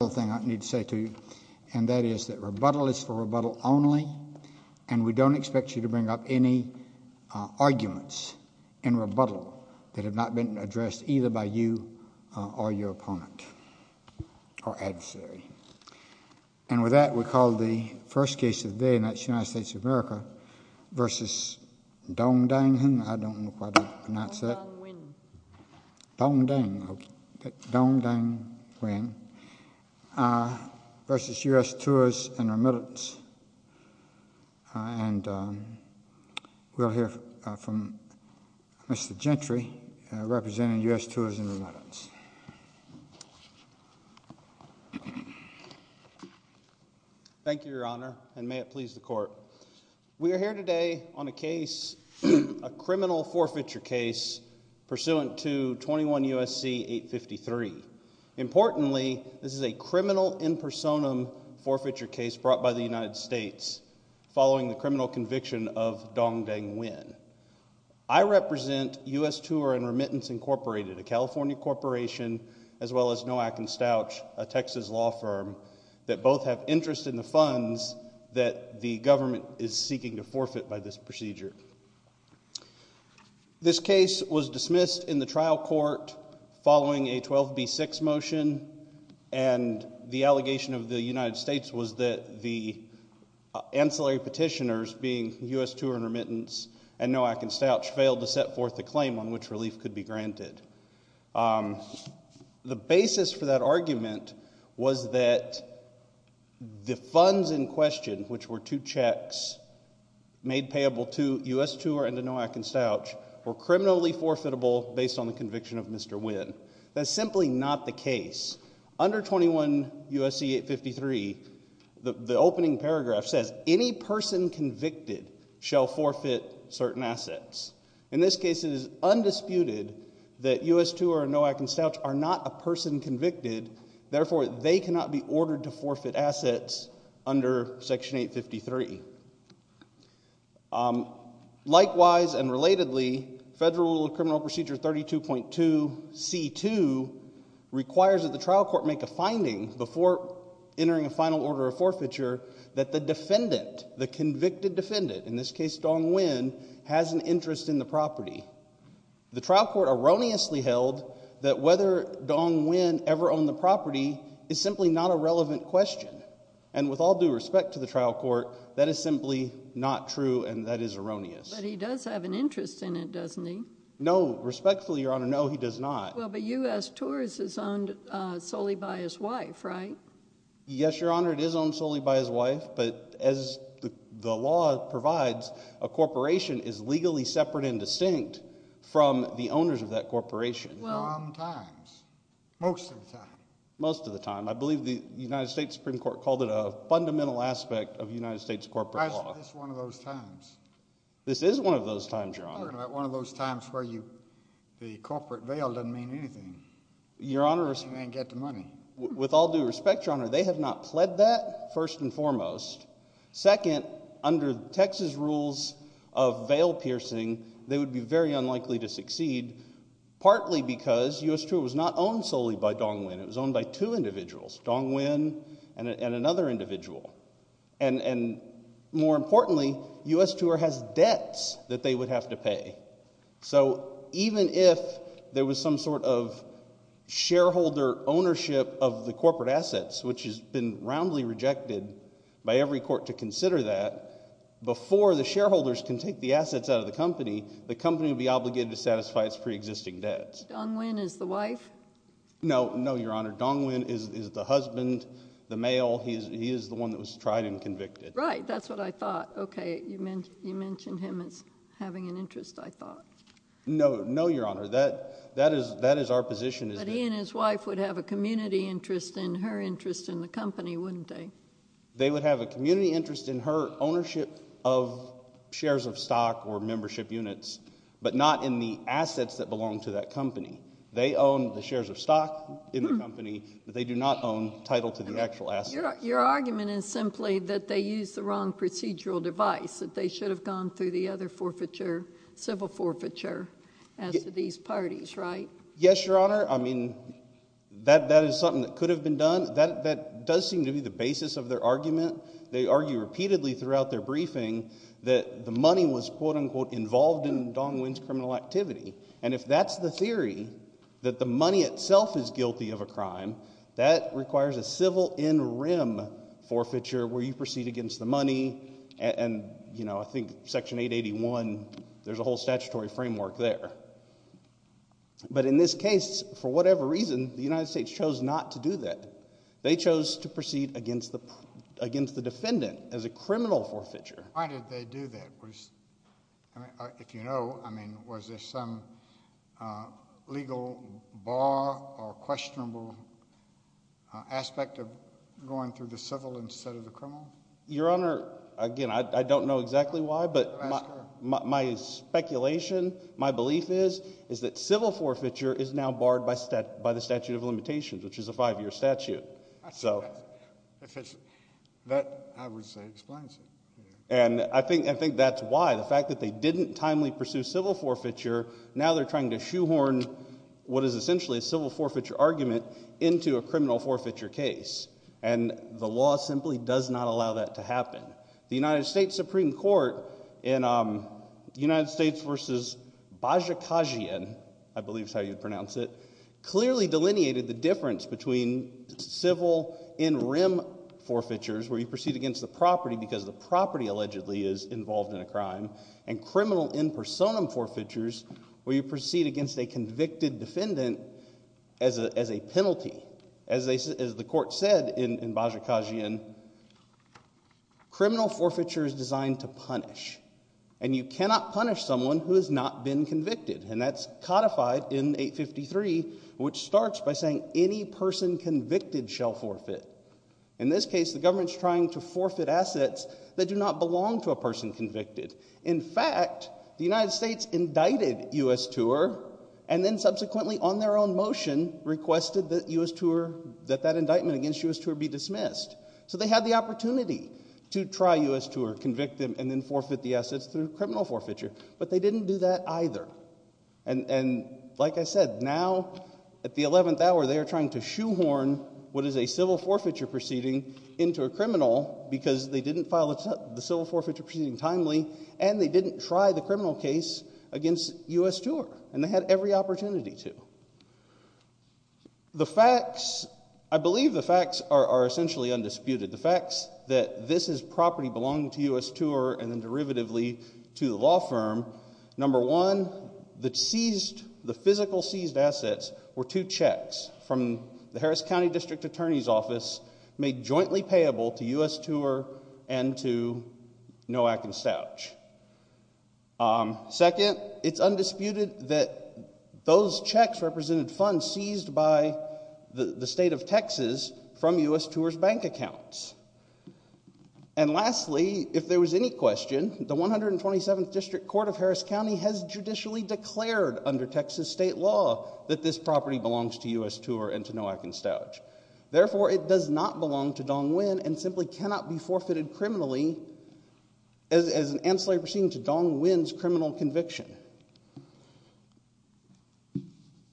Rebuttal is for rebuttal only, and we don't expect you to bring up any arguments in rebuttal that have not been addressed either by you or your opponent or adversary. And with that, we call the first case of the day in the United States of America v. Dong Dang Huynh v. U.S. Tours and Remittance. And we'll hear from Mr. Gentry, representing U.S. Tours and Remittance. Thank you, Your Honor, and may it please the Court. We are here today on a case, a criminal forfeiture case, pursuant to 21 U.S.C. 853. Importantly, this is a criminal in personam forfeiture case brought by the United States following the criminal conviction of Dong Dang Huynh. I represent U.S. Tours and Remittance Incorporated, a California corporation, as well as Noack & Stouch, a Texas law firm, that both have interest in the funds that the government is seeking to forfeit by this procedure. This case was dismissed in the trial court following a 12B6 motion, and the allegation of the United States was that the ancillary petitioners, being U.S. Tours and Remittance and Noack & Stouch, failed to set forth a claim on which relief could be granted. The basis for that argument was that the funds in question, which were two checks made payable to U.S. Tours and to Noack & Stouch, were criminally forfeitable based on the conviction of Mr. Huynh. That's simply not the case. Under 21 U.S.C. 853, the opening paragraph says, that any person convicted shall forfeit certain assets. In this case, it is undisputed that U.S. Tours and Noack & Stouch are not a person convicted. Therefore, they cannot be ordered to forfeit assets under Section 853. Likewise and relatedly, Federal Criminal Procedure 32.2C2 requires that the trial court make a finding before entering a final order of forfeiture, that the defendant, the convicted defendant, in this case Dong Huynh, has an interest in the property. The trial court erroneously held that whether Dong Huynh ever owned the property is simply not a relevant question. And with all due respect to the trial court, that is simply not true and that is erroneous. But he does have an interest in it, doesn't he? No, respectfully, Your Honor, no, he does not. Well, but U.S. Tours is owned solely by his wife, right? Yes, Your Honor, it is owned solely by his wife, but as the law provides, a corporation is legally separate and distinct from the owners of that corporation. Well… Sometimes, most of the time. Most of the time. I believe the United States Supreme Court called it a fundamental aspect of United States corporate law. That's one of those times. This is one of those times, Your Honor. One of those times where the corporate veil doesn't mean anything. Your Honor… You can't get the money. With all due respect, Your Honor, they have not pled that, first and foremost. Second, under Texas rules of veil piercing, they would be very unlikely to succeed, partly because U.S. Tour was not owned solely by Dong Huynh. It was owned by two individuals, Dong Huynh and another individual. And more importantly, U.S. Tour has debts that they would have to pay. So even if there was some sort of shareholder ownership of the corporate assets, which has been roundly rejected by every court to consider that, before the shareholders can take the assets out of the company, the company would be obligated to satisfy its preexisting debts. Dong Huynh is the wife? No, Your Honor. Dong Huynh is the husband, the male. He is the one that was tried and convicted. Right, that's what I thought. Okay, you mentioned him as having an interest, I thought. No, Your Honor. That is our position. But he and his wife would have a community interest in her interest in the company, wouldn't they? They would have a community interest in her ownership of shares of stock or membership units, but not in the assets that belong to that company. They own the shares of stock in the company, but they do not own title to the actual assets. Your argument is simply that they used the wrong procedural device, that they should have gone through the other forfeiture, civil forfeiture, as do these parties, right? Yes, Your Honor. I mean, that is something that could have been done. That does seem to be the basis of their argument. They argue repeatedly throughout their briefing that the money was, quote-unquote, involved in Dong Huynh's criminal activity. And if that's the theory, that the money itself is guilty of a crime, that requires a civil in rem forfeiture where you proceed against the money, and, you know, I think Section 881, there's a whole statutory framework there. But in this case, for whatever reason, the United States chose not to do that. They chose to proceed against the defendant as a criminal forfeiture. Why did they do that? If you know, I mean, was there some legal bar or questionable aspect of going through the civil instead of the criminal? Your Honor, again, I don't know exactly why, but my speculation, my belief is, is that civil forfeiture is now barred by the statute of limitations, which is a five-year statute. That, I would say, explains it. And I think that's why. The fact that they didn't timely pursue civil forfeiture, now they're trying to shoehorn what is essentially a civil forfeiture argument into a criminal forfeiture case. And the law simply does not allow that to happen. The United States Supreme Court in United States v. Bajikasian, I believe is how you'd pronounce it, clearly delineated the difference between civil in rem forfeitures, where you proceed against the property because the property allegedly is involved in a crime, and criminal in personam forfeitures, where you proceed against a convicted defendant as a penalty. As the court said in Bajikasian, criminal forfeiture is designed to punish. And you cannot punish someone who has not been convicted. And that's codified in 853, which starts by saying any person convicted shall forfeit. In this case, the government's trying to forfeit assets that do not belong to a person convicted. In fact, the United States indicted U.S. Tuer, and then subsequently on their own motion, requested that U.S. Tuer, that that indictment against U.S. Tuer be dismissed. So they had the opportunity to try U.S. Tuer, convict them, and then forfeit the assets through criminal forfeiture. But they didn't do that either. And like I said, now at the 11th hour they are trying to shoehorn what is a civil forfeiture proceeding into a criminal because they didn't file the civil forfeiture proceeding timely, and they didn't try the criminal case against U.S. Tuer. And they had every opportunity to. The facts, I believe the facts are essentially undisputed. The facts that this is property belonging to U.S. Tuer and then derivatively to the law firm, number one, the seized, the physical seized assets were two checks from the Harris County District Attorney's Office made jointly payable to U.S. Tuer and to Nowak and Stouch. Second, it's undisputed that those checks represented funds seized by the state of Texas from U.S. Tuer's bank accounts. And lastly, if there was any question, the 127th District Court of Harris County has judicially declared under Texas state law that this property belongs to U.S. Tuer and to Nowak and Stouch. Therefore, it does not belong to Dong Nguyen and simply cannot be forfeited criminally as an ancillary proceeding to Dong Nguyen's criminal conviction.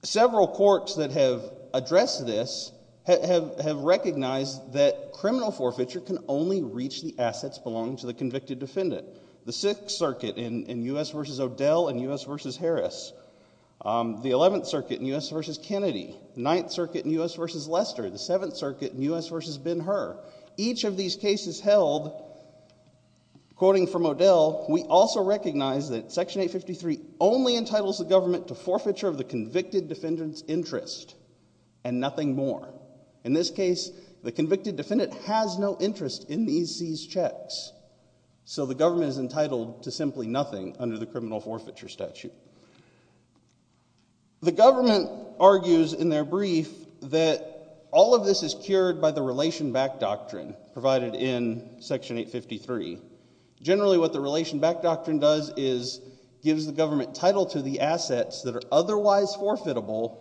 Several courts that have addressed this have recognized that criminal forfeiture can only reach the assets belonging to the convicted defendant. The 6th Circuit in U.S. v. O'Dell and U.S. v. Harris. The 11th Circuit in U.S. v. Kennedy. The 9th Circuit in U.S. v. Lester. The 7th Circuit in U.S. v. Ben-Hur. Each of these cases held, quoting from O'Dell, we also recognize that Section 853 only entitles the government to forfeiture of the convicted defendant's interest and nothing more. In this case, the convicted defendant has no interest in these seized checks. So the government is entitled to simply nothing under the criminal forfeiture statute. The government argues in their brief that all of this is cured by the Relation Back Doctrine provided in Section 853. Generally what the Relation Back Doctrine does is gives the government title to the assets that are otherwise forfeitable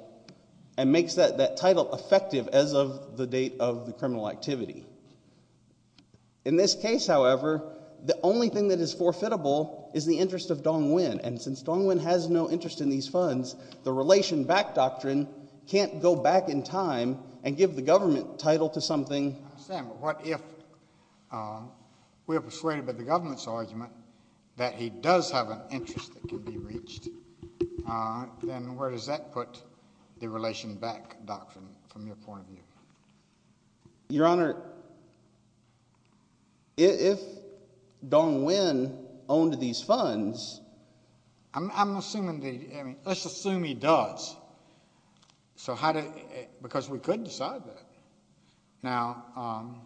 and makes that title effective as of the date of the criminal activity. In this case, however, the only thing that is forfeitable is the interest of Dong-Win. And since Dong-Win has no interest in these funds, the Relation Back Doctrine can't go back in time and give the government title to something. I understand, but what if we are persuaded by the government's argument that he does have an interest that can be reached? Then where does that put the Relation Back Doctrine from your point of view? Your Honor, if Dong-Win owned these funds— I'm assuming that—let's assume he does because we could decide that. Now,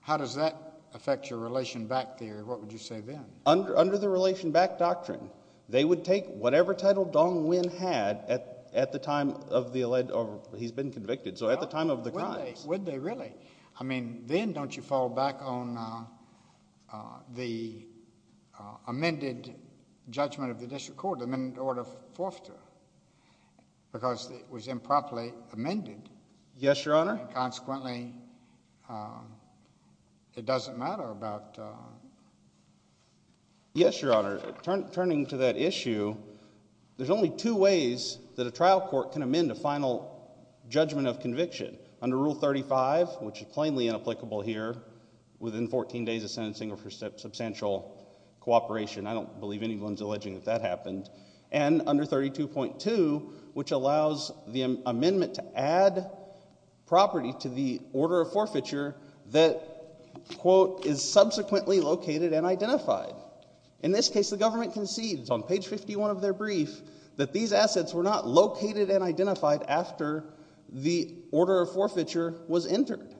how does that affect your Relation Back Theory? What would you say then? Under the Relation Back Doctrine, they would take whatever title Dong-Win had at the time of the—he's been convicted. So at the time of the crimes— Would they really? I mean, then don't you fall back on the amended judgment of the district court, the amended order of forfeiture, because it was improperly amended? Yes, Your Honor. And consequently, it doesn't matter about— Yes, Your Honor. Turning to that issue, there's only two ways that a trial court can amend a final judgment of conviction. Under Rule 35, which is plainly inapplicable here, within 14 days of sentencing or for substantial cooperation. I don't believe anyone's alleging that that happened. And under 32.2, which allows the amendment to add property to the order of forfeiture that, quote, is subsequently located and identified. In this case, the government concedes on page 51 of their brief that these assets were not located and identified after the order of forfeiture was entered.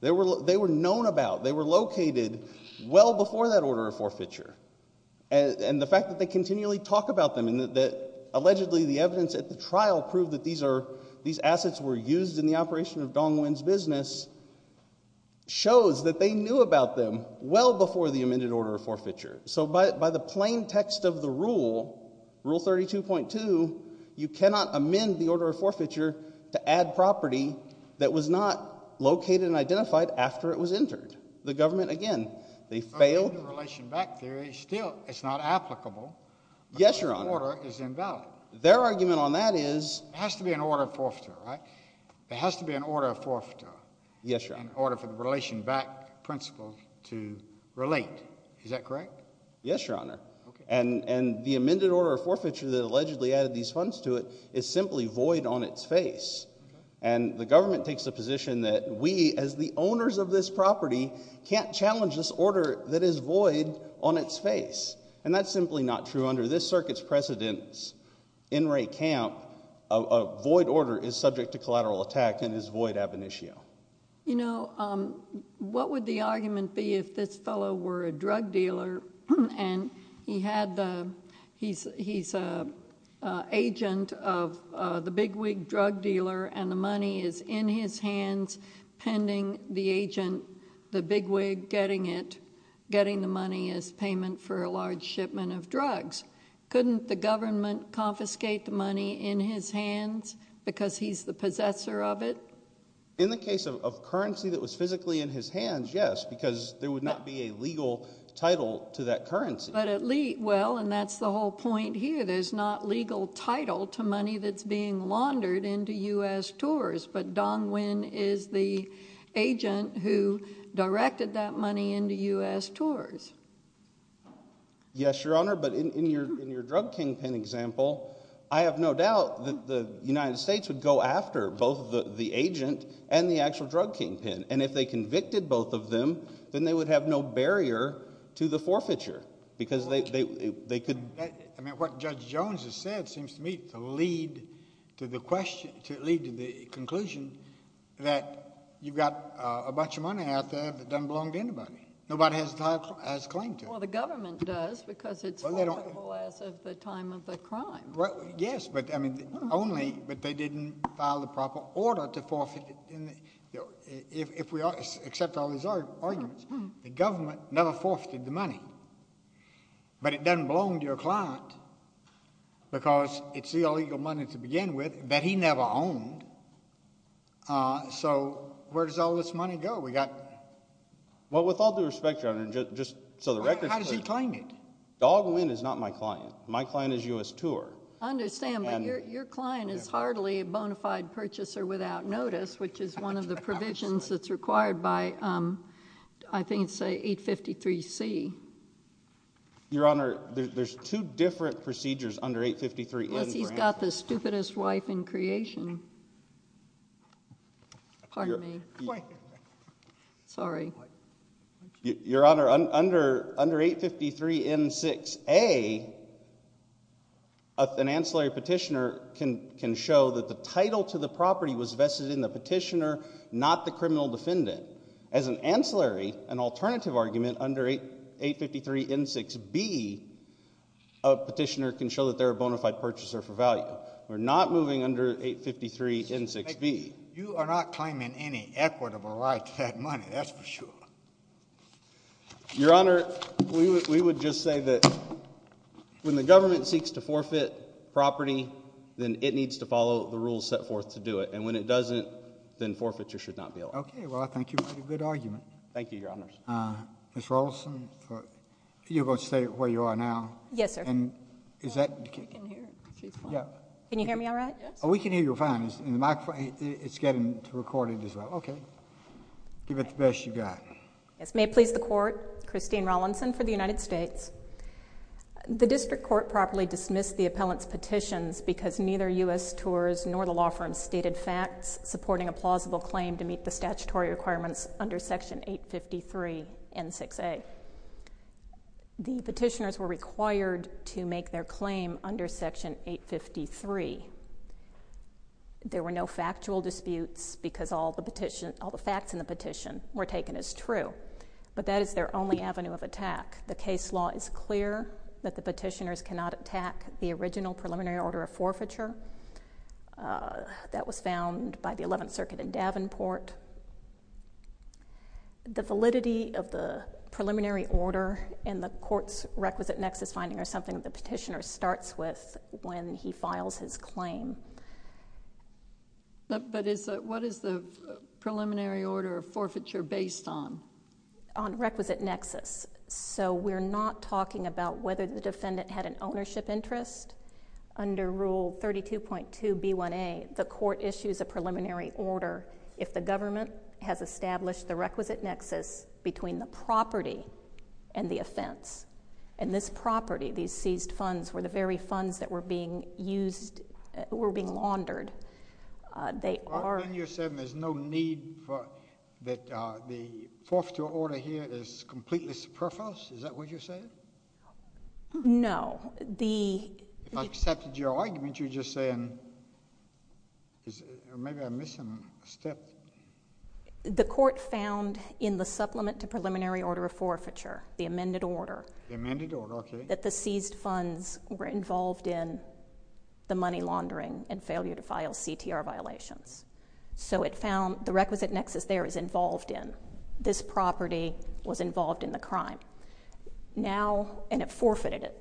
They were known about. They were located well before that order of forfeiture. And the fact that they continually talk about them and that allegedly the evidence at the trial proved that these assets were used in the operation of Dong Wen's business shows that they knew about them well before the amended order of forfeiture. So by the plain text of the rule, Rule 32.2, you cannot amend the order of forfeiture to add property that was not located and identified after it was entered. The government, again, they failed— In relation back theory, still, it's not applicable. Yes, Your Honor. But the order is invalid. Their argument on that is— It has to be an order of forfeiture, right? It has to be an order of forfeiture. Yes, Your Honor. In order for the relation back principle to relate. Is that correct? Yes, Your Honor. And the amended order of forfeiture that allegedly added these funds to it is simply void on its face. And the government takes the position that we, as the owners of this property, can't challenge this order that is void on its face. And that's simply not true. Under this circuit's precedence, N. Ray Camp, a void order is subject to collateral attack and is void ab initio. You know, what would the argument be if this fellow were a drug dealer and he had the—he's an agent of the bigwig drug dealer and the money is in his hands pending the agent, the bigwig, getting it, getting the money as payment for a large shipment of drugs. Couldn't the government confiscate the money in his hands because he's the possessor of it? In the case of currency that was physically in his hands, yes, because there would not be a legal title to that currency. But at least—well, and that's the whole point here. There's not legal title to money that's being laundered into U.S. tours. But Don Nguyen is the agent who directed that money into U.S. tours. Yes, Your Honor, but in your drug kingpin example, I have no doubt that the United States would go after both the agent and the actual drug kingpin. And if they convicted both of them, then they would have no barrier to the forfeiture because they could— I mean, what Judge Jones has said seems to me to lead to the conclusion that you've got a bunch of money out there that doesn't belong to anybody. Nobody has a claim to it. Well, the government does because it's forfeitable as of the time of the crime. Well, yes, but, I mean, only—but they didn't file the proper order to forfeit it. If we accept all these arguments, the government never forfeited the money. But it doesn't belong to your client because it's the illegal money to begin with that he never owned. So where does all this money go? We got— Well, with all due respect, Your Honor, just so the record's clear— How does he claim it? Dog Nguyen is not my client. My client is U.S. tour. I understand, but your client is hardly a bona fide purchaser without notice, which is one of the provisions that's required by, I think it's 853C. Your Honor, there's two different procedures under 853N4A. Yes, he's got the stupidest wife in creation. Pardon me. Sorry. Your Honor, under 853N6A, an ancillary petitioner can show that the title to the property was vested in the petitioner, not the criminal defendant. As an ancillary, an alternative argument, under 853N6B, a petitioner can show that they're a bona fide purchaser for value. We're not moving under 853N6B. You are not claiming any equitable right to that money. That's for sure. Your Honor, we would just say that when the government seeks to forfeit property, then it needs to follow the rules set forth to do it. And when it doesn't, then forfeiture should not be allowed. Okay. Well, I think you made a good argument. Thank you, Your Honors. Ms. Rolison, you're going to stay where you are now. Yes, sir. And is that— Can you hear me all right? Yes. Oh, we can hear you fine. It's getting recorded as well. Okay. Give it the best you've got. Yes. May it please the Court, Christine Rolison for the United States. The District Court properly dismissed the appellant's petitions because neither U.S. Tours nor the law firm stated facts supporting a plausible claim to meet the statutory requirements under Section 853N6A. The petitioners were required to make their claim under Section 853. There were no factual disputes because all the facts in the petition were taken as true. But that is their only avenue of attack. The case law is clear that the petitioners cannot attack the original preliminary order of forfeiture that was found by the Eleventh Circuit in Davenport. The validity of the preliminary order and the court's requisite nexus finding are something the petitioner starts with when he files his claim. But what is the preliminary order of forfeiture based on? On requisite nexus. So we're not talking about whether the defendant had an ownership interest. Under Rule 32.2B1A, the court issues a preliminary order if the government has established the requisite nexus between the property and the offense. And this property, these seized funds, were the very funds that were being used, were being laundered. Well, then you're saying there's no need for, that the forfeiture order here is completely superfluous? Is that what you're saying? No. If I've accepted your argument, you're just saying, maybe I'm missing a step. The court found in the supplement to preliminary order of forfeiture, the amended order, The amended order, okay. That the seized funds were involved in the money laundering and failure to file CTR violations. So it found the requisite nexus there is involved in. This property was involved in the crime. Now, and it forfeited it.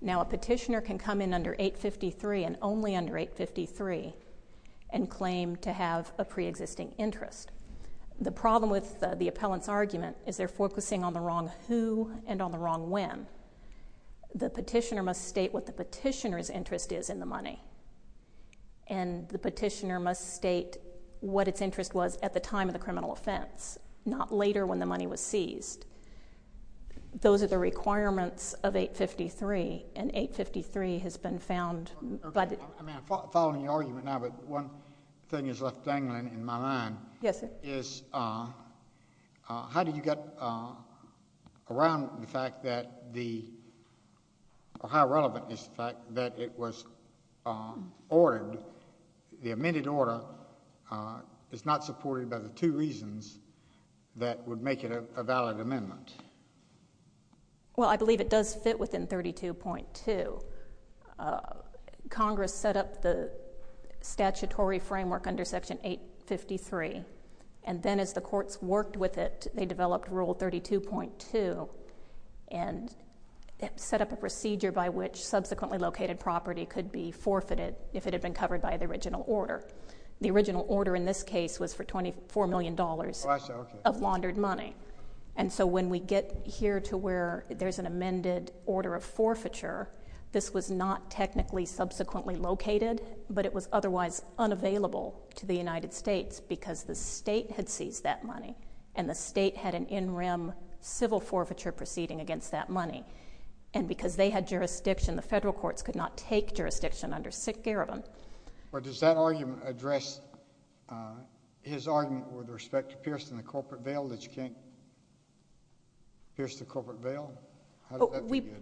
Now a petitioner can come in under 853 and only under 853 and claim to have a preexisting interest. The problem with the appellant's argument is they're focusing on the wrong who and on the wrong when. The petitioner must state what the petitioner's interest is in the money. And the petitioner must state what its interest was at the time of the criminal offense. Not later when the money was seized. Those are the requirements of 853. And 853 has been found. I'm following your argument now, but one thing is left dangling in my mind. Yes, sir. Is how did you get around the fact that the, or how relevant is the fact that it was ordered, the amended order is not supported by the two reasons that would make it a valid amendment? Well, I believe it does fit within 32.2. Congress set up the statutory framework under Section 853. And then as the courts worked with it, they developed Rule 32.2 and set up a procedure by which subsequently located property could be forfeited if it had been covered by the original order. The original order in this case was for $24 million of laundered money. And so when we get here to where there's an amended order of forfeiture, this was not technically subsequently located, but it was otherwise unavailable to the United States because the state had seized that money and the state had an in-rim civil forfeiture proceeding against that money. And because they had jurisdiction, the federal courts could not take jurisdiction under sick care of them. But does that argument address his argument with respect to piercing the corporate veil that you can't pierce the corporate veil?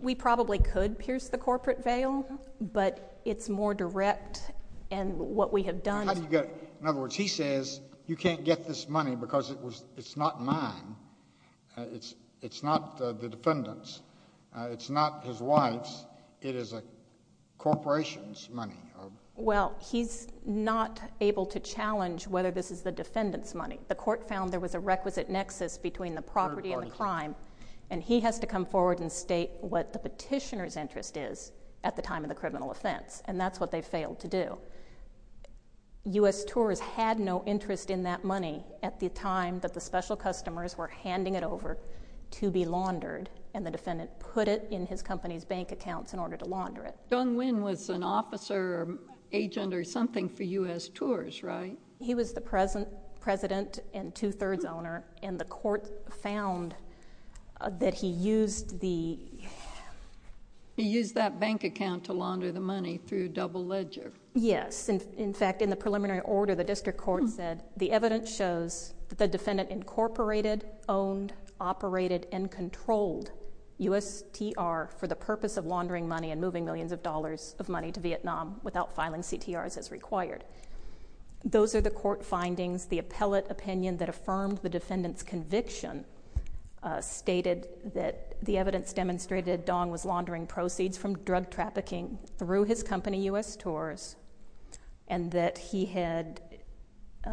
We probably could pierce the corporate veil, but it's more direct in what we have done. In other words, he says you can't get this money because it's not mine. It's not the defendant's. It's not his wife's. It is a corporation's money. Well, he's not able to challenge whether this is the defendant's money. The court found there was a requisite nexus between the property and the crime, and he has to come forward and state what the petitioner's interest is at the time of the criminal offense, and that's what they failed to do. U.S. Tours had no interest in that money at the time that the special customers were handing it over to be laundered, and the defendant put it in his company's bank accounts in order to launder it. Dung Nguyen was an officer or agent or something for U.S. Tours, right? He was the president and two-thirds owner, and the court found that he used the... He used that bank account to launder the money through double ledger. Yes. In fact, in the preliminary order, the district court said the evidence shows that the defendant incorporated, owned, operated, and controlled USTR for the purpose of laundering money and moving millions of dollars of money to Vietnam without filing CTRs as required. Those are the court findings. The appellate opinion that affirmed the defendant's conviction stated that the evidence demonstrated Dung was laundering proceeds from drug trafficking through his company, U.S. Tours, and that he had...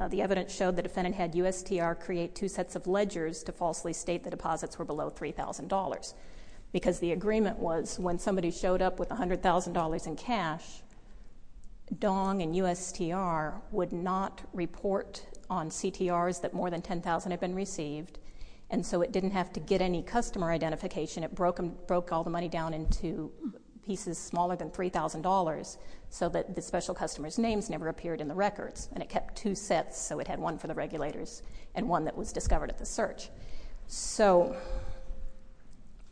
the evidence showed the defendant had USTR create two sets of ledgers to falsely state the deposits were below $3,000 because the agreement was when somebody showed up with $100,000 in cash, Dung and USTR would not report on CTRs that more than $10,000 had been received, and so it didn't have to get any customer identification. It broke all the money down into pieces smaller than $3,000 so that the special customer's names never appeared in the records, and it kept two sets so it had one for the regulators and one that was discovered at the search. So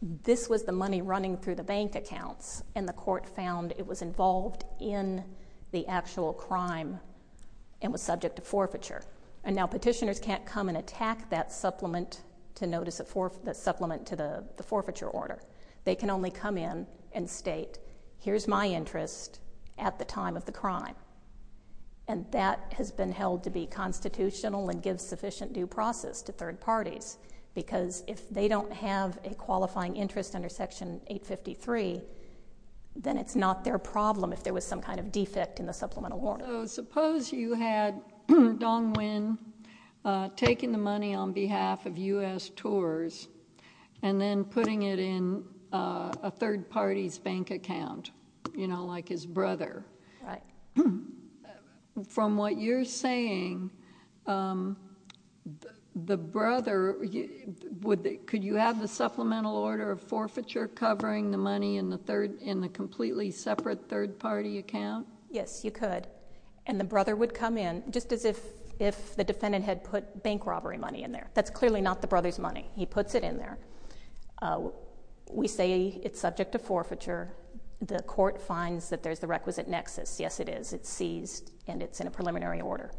this was the money running through the bank accounts, and the court found it was involved in the actual crime and was subject to forfeiture. And now petitioners can't come and attack that supplement to notice the supplement to the forfeiture order. They can only come in and state, here's my interest at the time of the crime, and that has been held to be constitutional and gives sufficient due process to third parties because if they don't have a qualifying interest under Section 853, then it's not their problem if there was some kind of defect in the supplemental order. So suppose you had Dong Win taking the money on behalf of USTRs and then putting it in a third party's bank account, you know, like his brother. Right. From what you're saying, the brother, could you have the supplemental order of forfeiture covering the money in the completely separate third party account? Yes, you could, and the brother would come in just as if the defendant had put bank robbery money in there. That's clearly not the brother's money. He puts it in there. We say it's subject to forfeiture. The court finds that there's the requisite nexus. Yes, it is. It's seized, and it's in a preliminary order.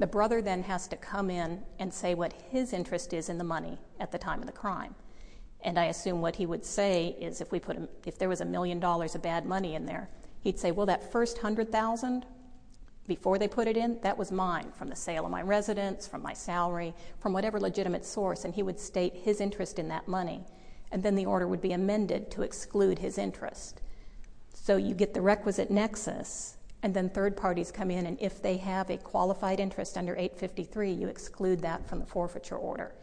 The brother then has to come in and say what his interest is in the money at the time of the crime, and I assume what he would say is if there was a million dollars of bad money in there, he'd say, well, that first $100,000 before they put it in, that was mine from the sale of my residence, from my salary, from whatever legitimate source, and he would state his interest in that money, and then the order would be amended to exclude his interest. So you get the requisite nexus, and then third parties come in, and if they have a qualified interest under 853, you exclude that from the forfeiture order,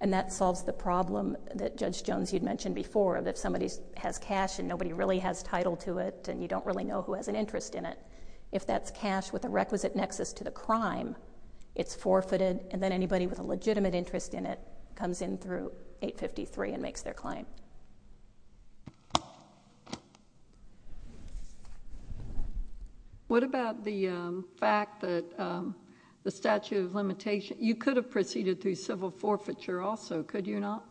and that solves the problem that, Judge Jones, you'd mentioned before, that if somebody has cash and nobody really has title to it and you don't really know who has an interest in it, if that's cash with a requisite nexus to the crime, it's forfeited, and then anybody with a legitimate interest in it comes in through 853 and makes their claim. What about the fact that the statute of limitations, you could have proceeded through civil forfeiture also, could you not?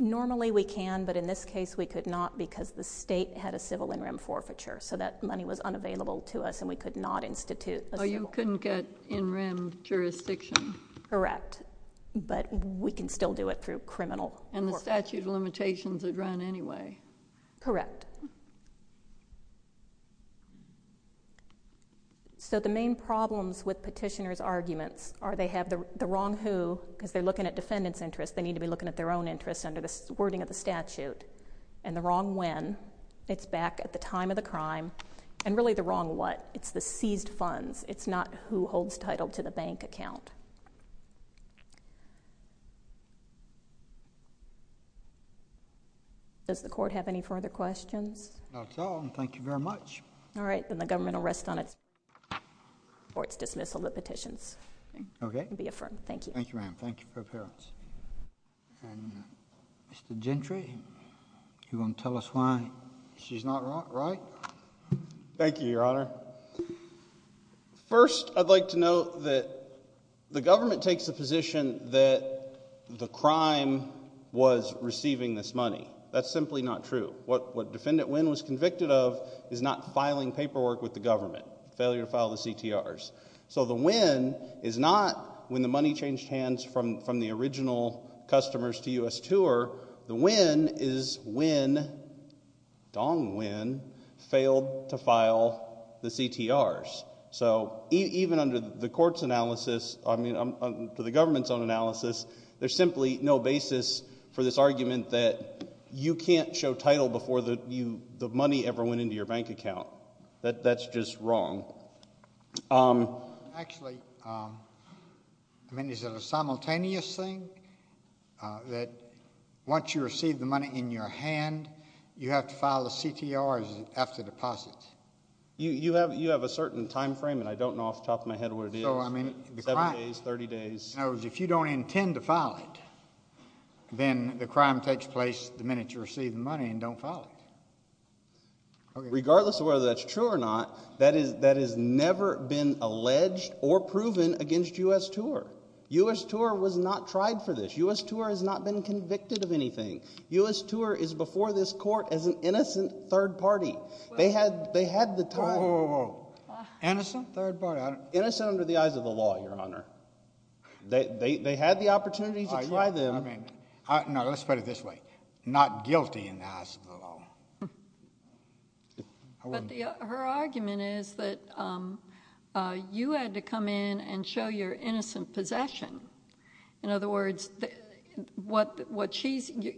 Normally we can, but in this case we could not because the state had a civil in-rim forfeiture, so that money was unavailable to us and we could not institute a civil. So you couldn't get in-rim jurisdiction. Correct, but we can still do it through criminal forfeiture. And the statute of limitations would run anyway. Correct. So the main problems with petitioners' arguments are they have the wrong who, because they're looking at defendants' interests, they need to be looking at their own interests under the wording of the statute, and the wrong when, it's back at the time of the crime, and really the wrong what, it's the seized funds, it's not who holds title to the bank account. Does the court have any further questions? Not at all, and thank you very much. All right, then the government will rest on its dismissal of the petitions. Okay. It will be affirmed. Thank you. Thank you, ma'am. Thank you for your appearance. And Mr. Gentry, you want to tell us why she's not right? Thank you, Your Honor. First, I'd like to note that the government takes the position that the crime was receiving this money. That's simply not true. What Defendant Wynn was convicted of is not filing paperwork with the government, failure to file the CTRs. So the Wynn is not when the money changed hands from the original customers to U.S. Tour. The Wynn is when Dong Wynn failed to file the CTRs. So even under the government's own analysis, there's simply no basis for this argument that you can't show title before the money ever went into your bank account. That's just wrong. Actually, I mean, is it a simultaneous thing that once you receive the money in your hand, you have to file the CTRs after deposits? You have a certain time frame, and I don't know off the top of my head what it is. So, I mean, the crime. Seven days, 30 days. In other words, if you don't intend to file it, then the crime takes place the minute you receive the money and don't file it. Regardless of whether that's true or not, that has never been alleged or proven against U.S. Tour. U.S. Tour was not tried for this. U.S. Tour has not been convicted of anything. U.S. Tour is before this court as an innocent third party. They had the time. Whoa, whoa, whoa. Innocent third party? Innocent under the eyes of the law, Your Honor. They had the opportunity to try them. No, let's put it this way. Not guilty in the eyes of the law. But her argument is that you had to come in and show your innocent possession. In other words,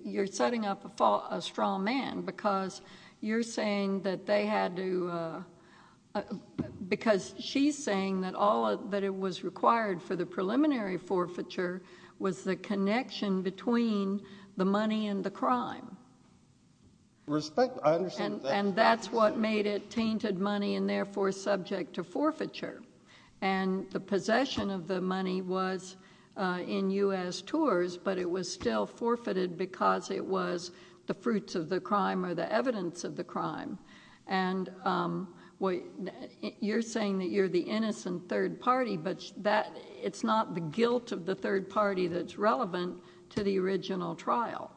you're setting up a strong man because you're saying that they had to, because she's saying that all that was required for the preliminary forfeiture was the connection between the money and the crime. Respect, I understand that. And that's what made it tainted money and therefore subject to forfeiture. And the possession of the money was in U.S. Tours, but it was still forfeited because it was the fruits of the crime or the evidence of the crime. And you're saying that you're the innocent third party, but it's not the guilt of the third party that's relevant to the original trial.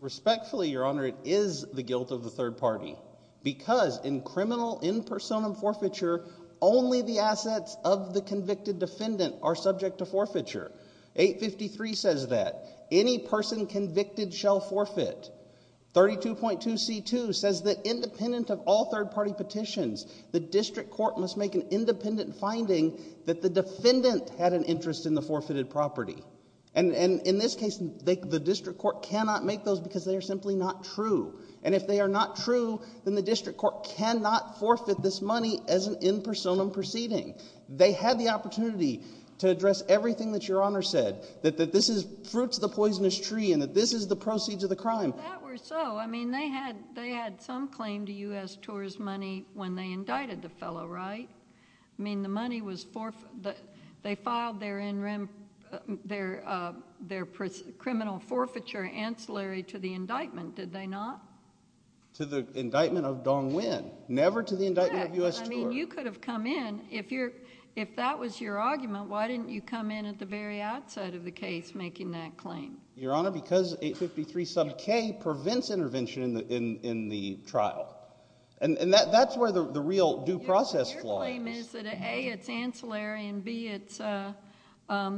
Respectfully, Your Honor, it is the guilt of the third party because in criminal in personam forfeiture, only the assets of the convicted defendant are subject to forfeiture. 853 says that. Any person convicted shall forfeit. 32.2C2 says that independent of all third party petitions, the district court must make an independent finding that the defendant had an interest in the forfeited property. And in this case, the district court cannot make those because they are simply not true. And if they are not true, then the district court cannot forfeit this money as an in personam proceeding. They had the opportunity to address everything that Your Honor said, that this is fruits of the poisonous tree and that this is the proceeds of the crime. If that were so, I mean, they had some claim to U.S. Tours money when they indicted the fellow, right? I mean, the money was forfeited. They filed their criminal forfeiture ancillary to the indictment, did they not? To the indictment of Dong Nguyen, never to the indictment of U.S. Tours. I mean, you could have come in. If that was your argument, why didn't you come in at the very outside of the case making that claim? Your Honor, because 853 sub K prevents intervention in the trial. And that's where the real due process lies. Your claim is that A, it's ancillary, and B, it's that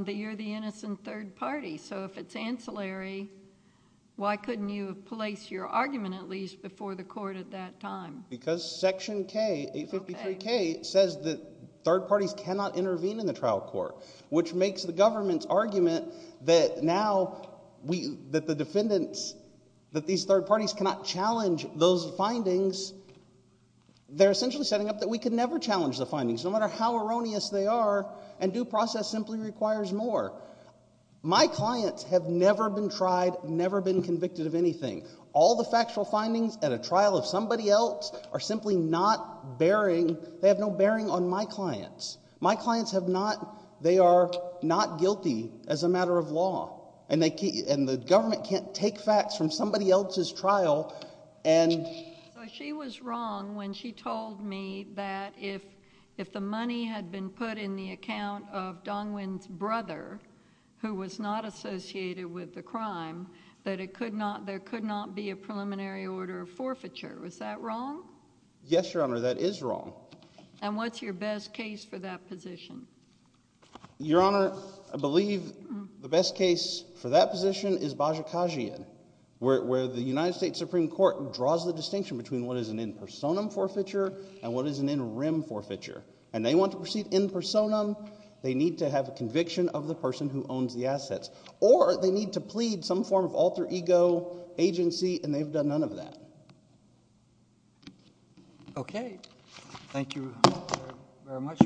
you're the innocent third party. So if it's ancillary, why couldn't you have placed your argument at least before the court at that time? Because Section K, 853K, says that third parties cannot intervene in the trial court, which makes the government's argument that now that the defendants, that these third parties cannot challenge those findings. They're essentially setting up that we could never challenge the findings, no matter how erroneous they are, and due process simply requires more. My clients have never been tried, never been convicted of anything. All the factual findings at a trial of somebody else are simply not bearing, they have no bearing on my clients. My clients have not, they are not guilty as a matter of law. And the government can't take facts from somebody else's trial and... So she was wrong when she told me that if the money had been put in the account of Dong-Win's brother, who was not associated with the crime, that there could not be a preliminary order of forfeiture. Was that wrong? Yes, Your Honor, that is wrong. And what's your best case for that position? Your Honor, I believe the best case for that position is Bajikagian, where the United States Supreme Court draws the distinction between what is an in personam forfeiture and what is an in rem forfeiture. And they want to proceed in personam, they need to have a conviction of the person who owns the assets. Or they need to plead some form of alter ego agency, and they've done none of that. Okay. Thank you very much.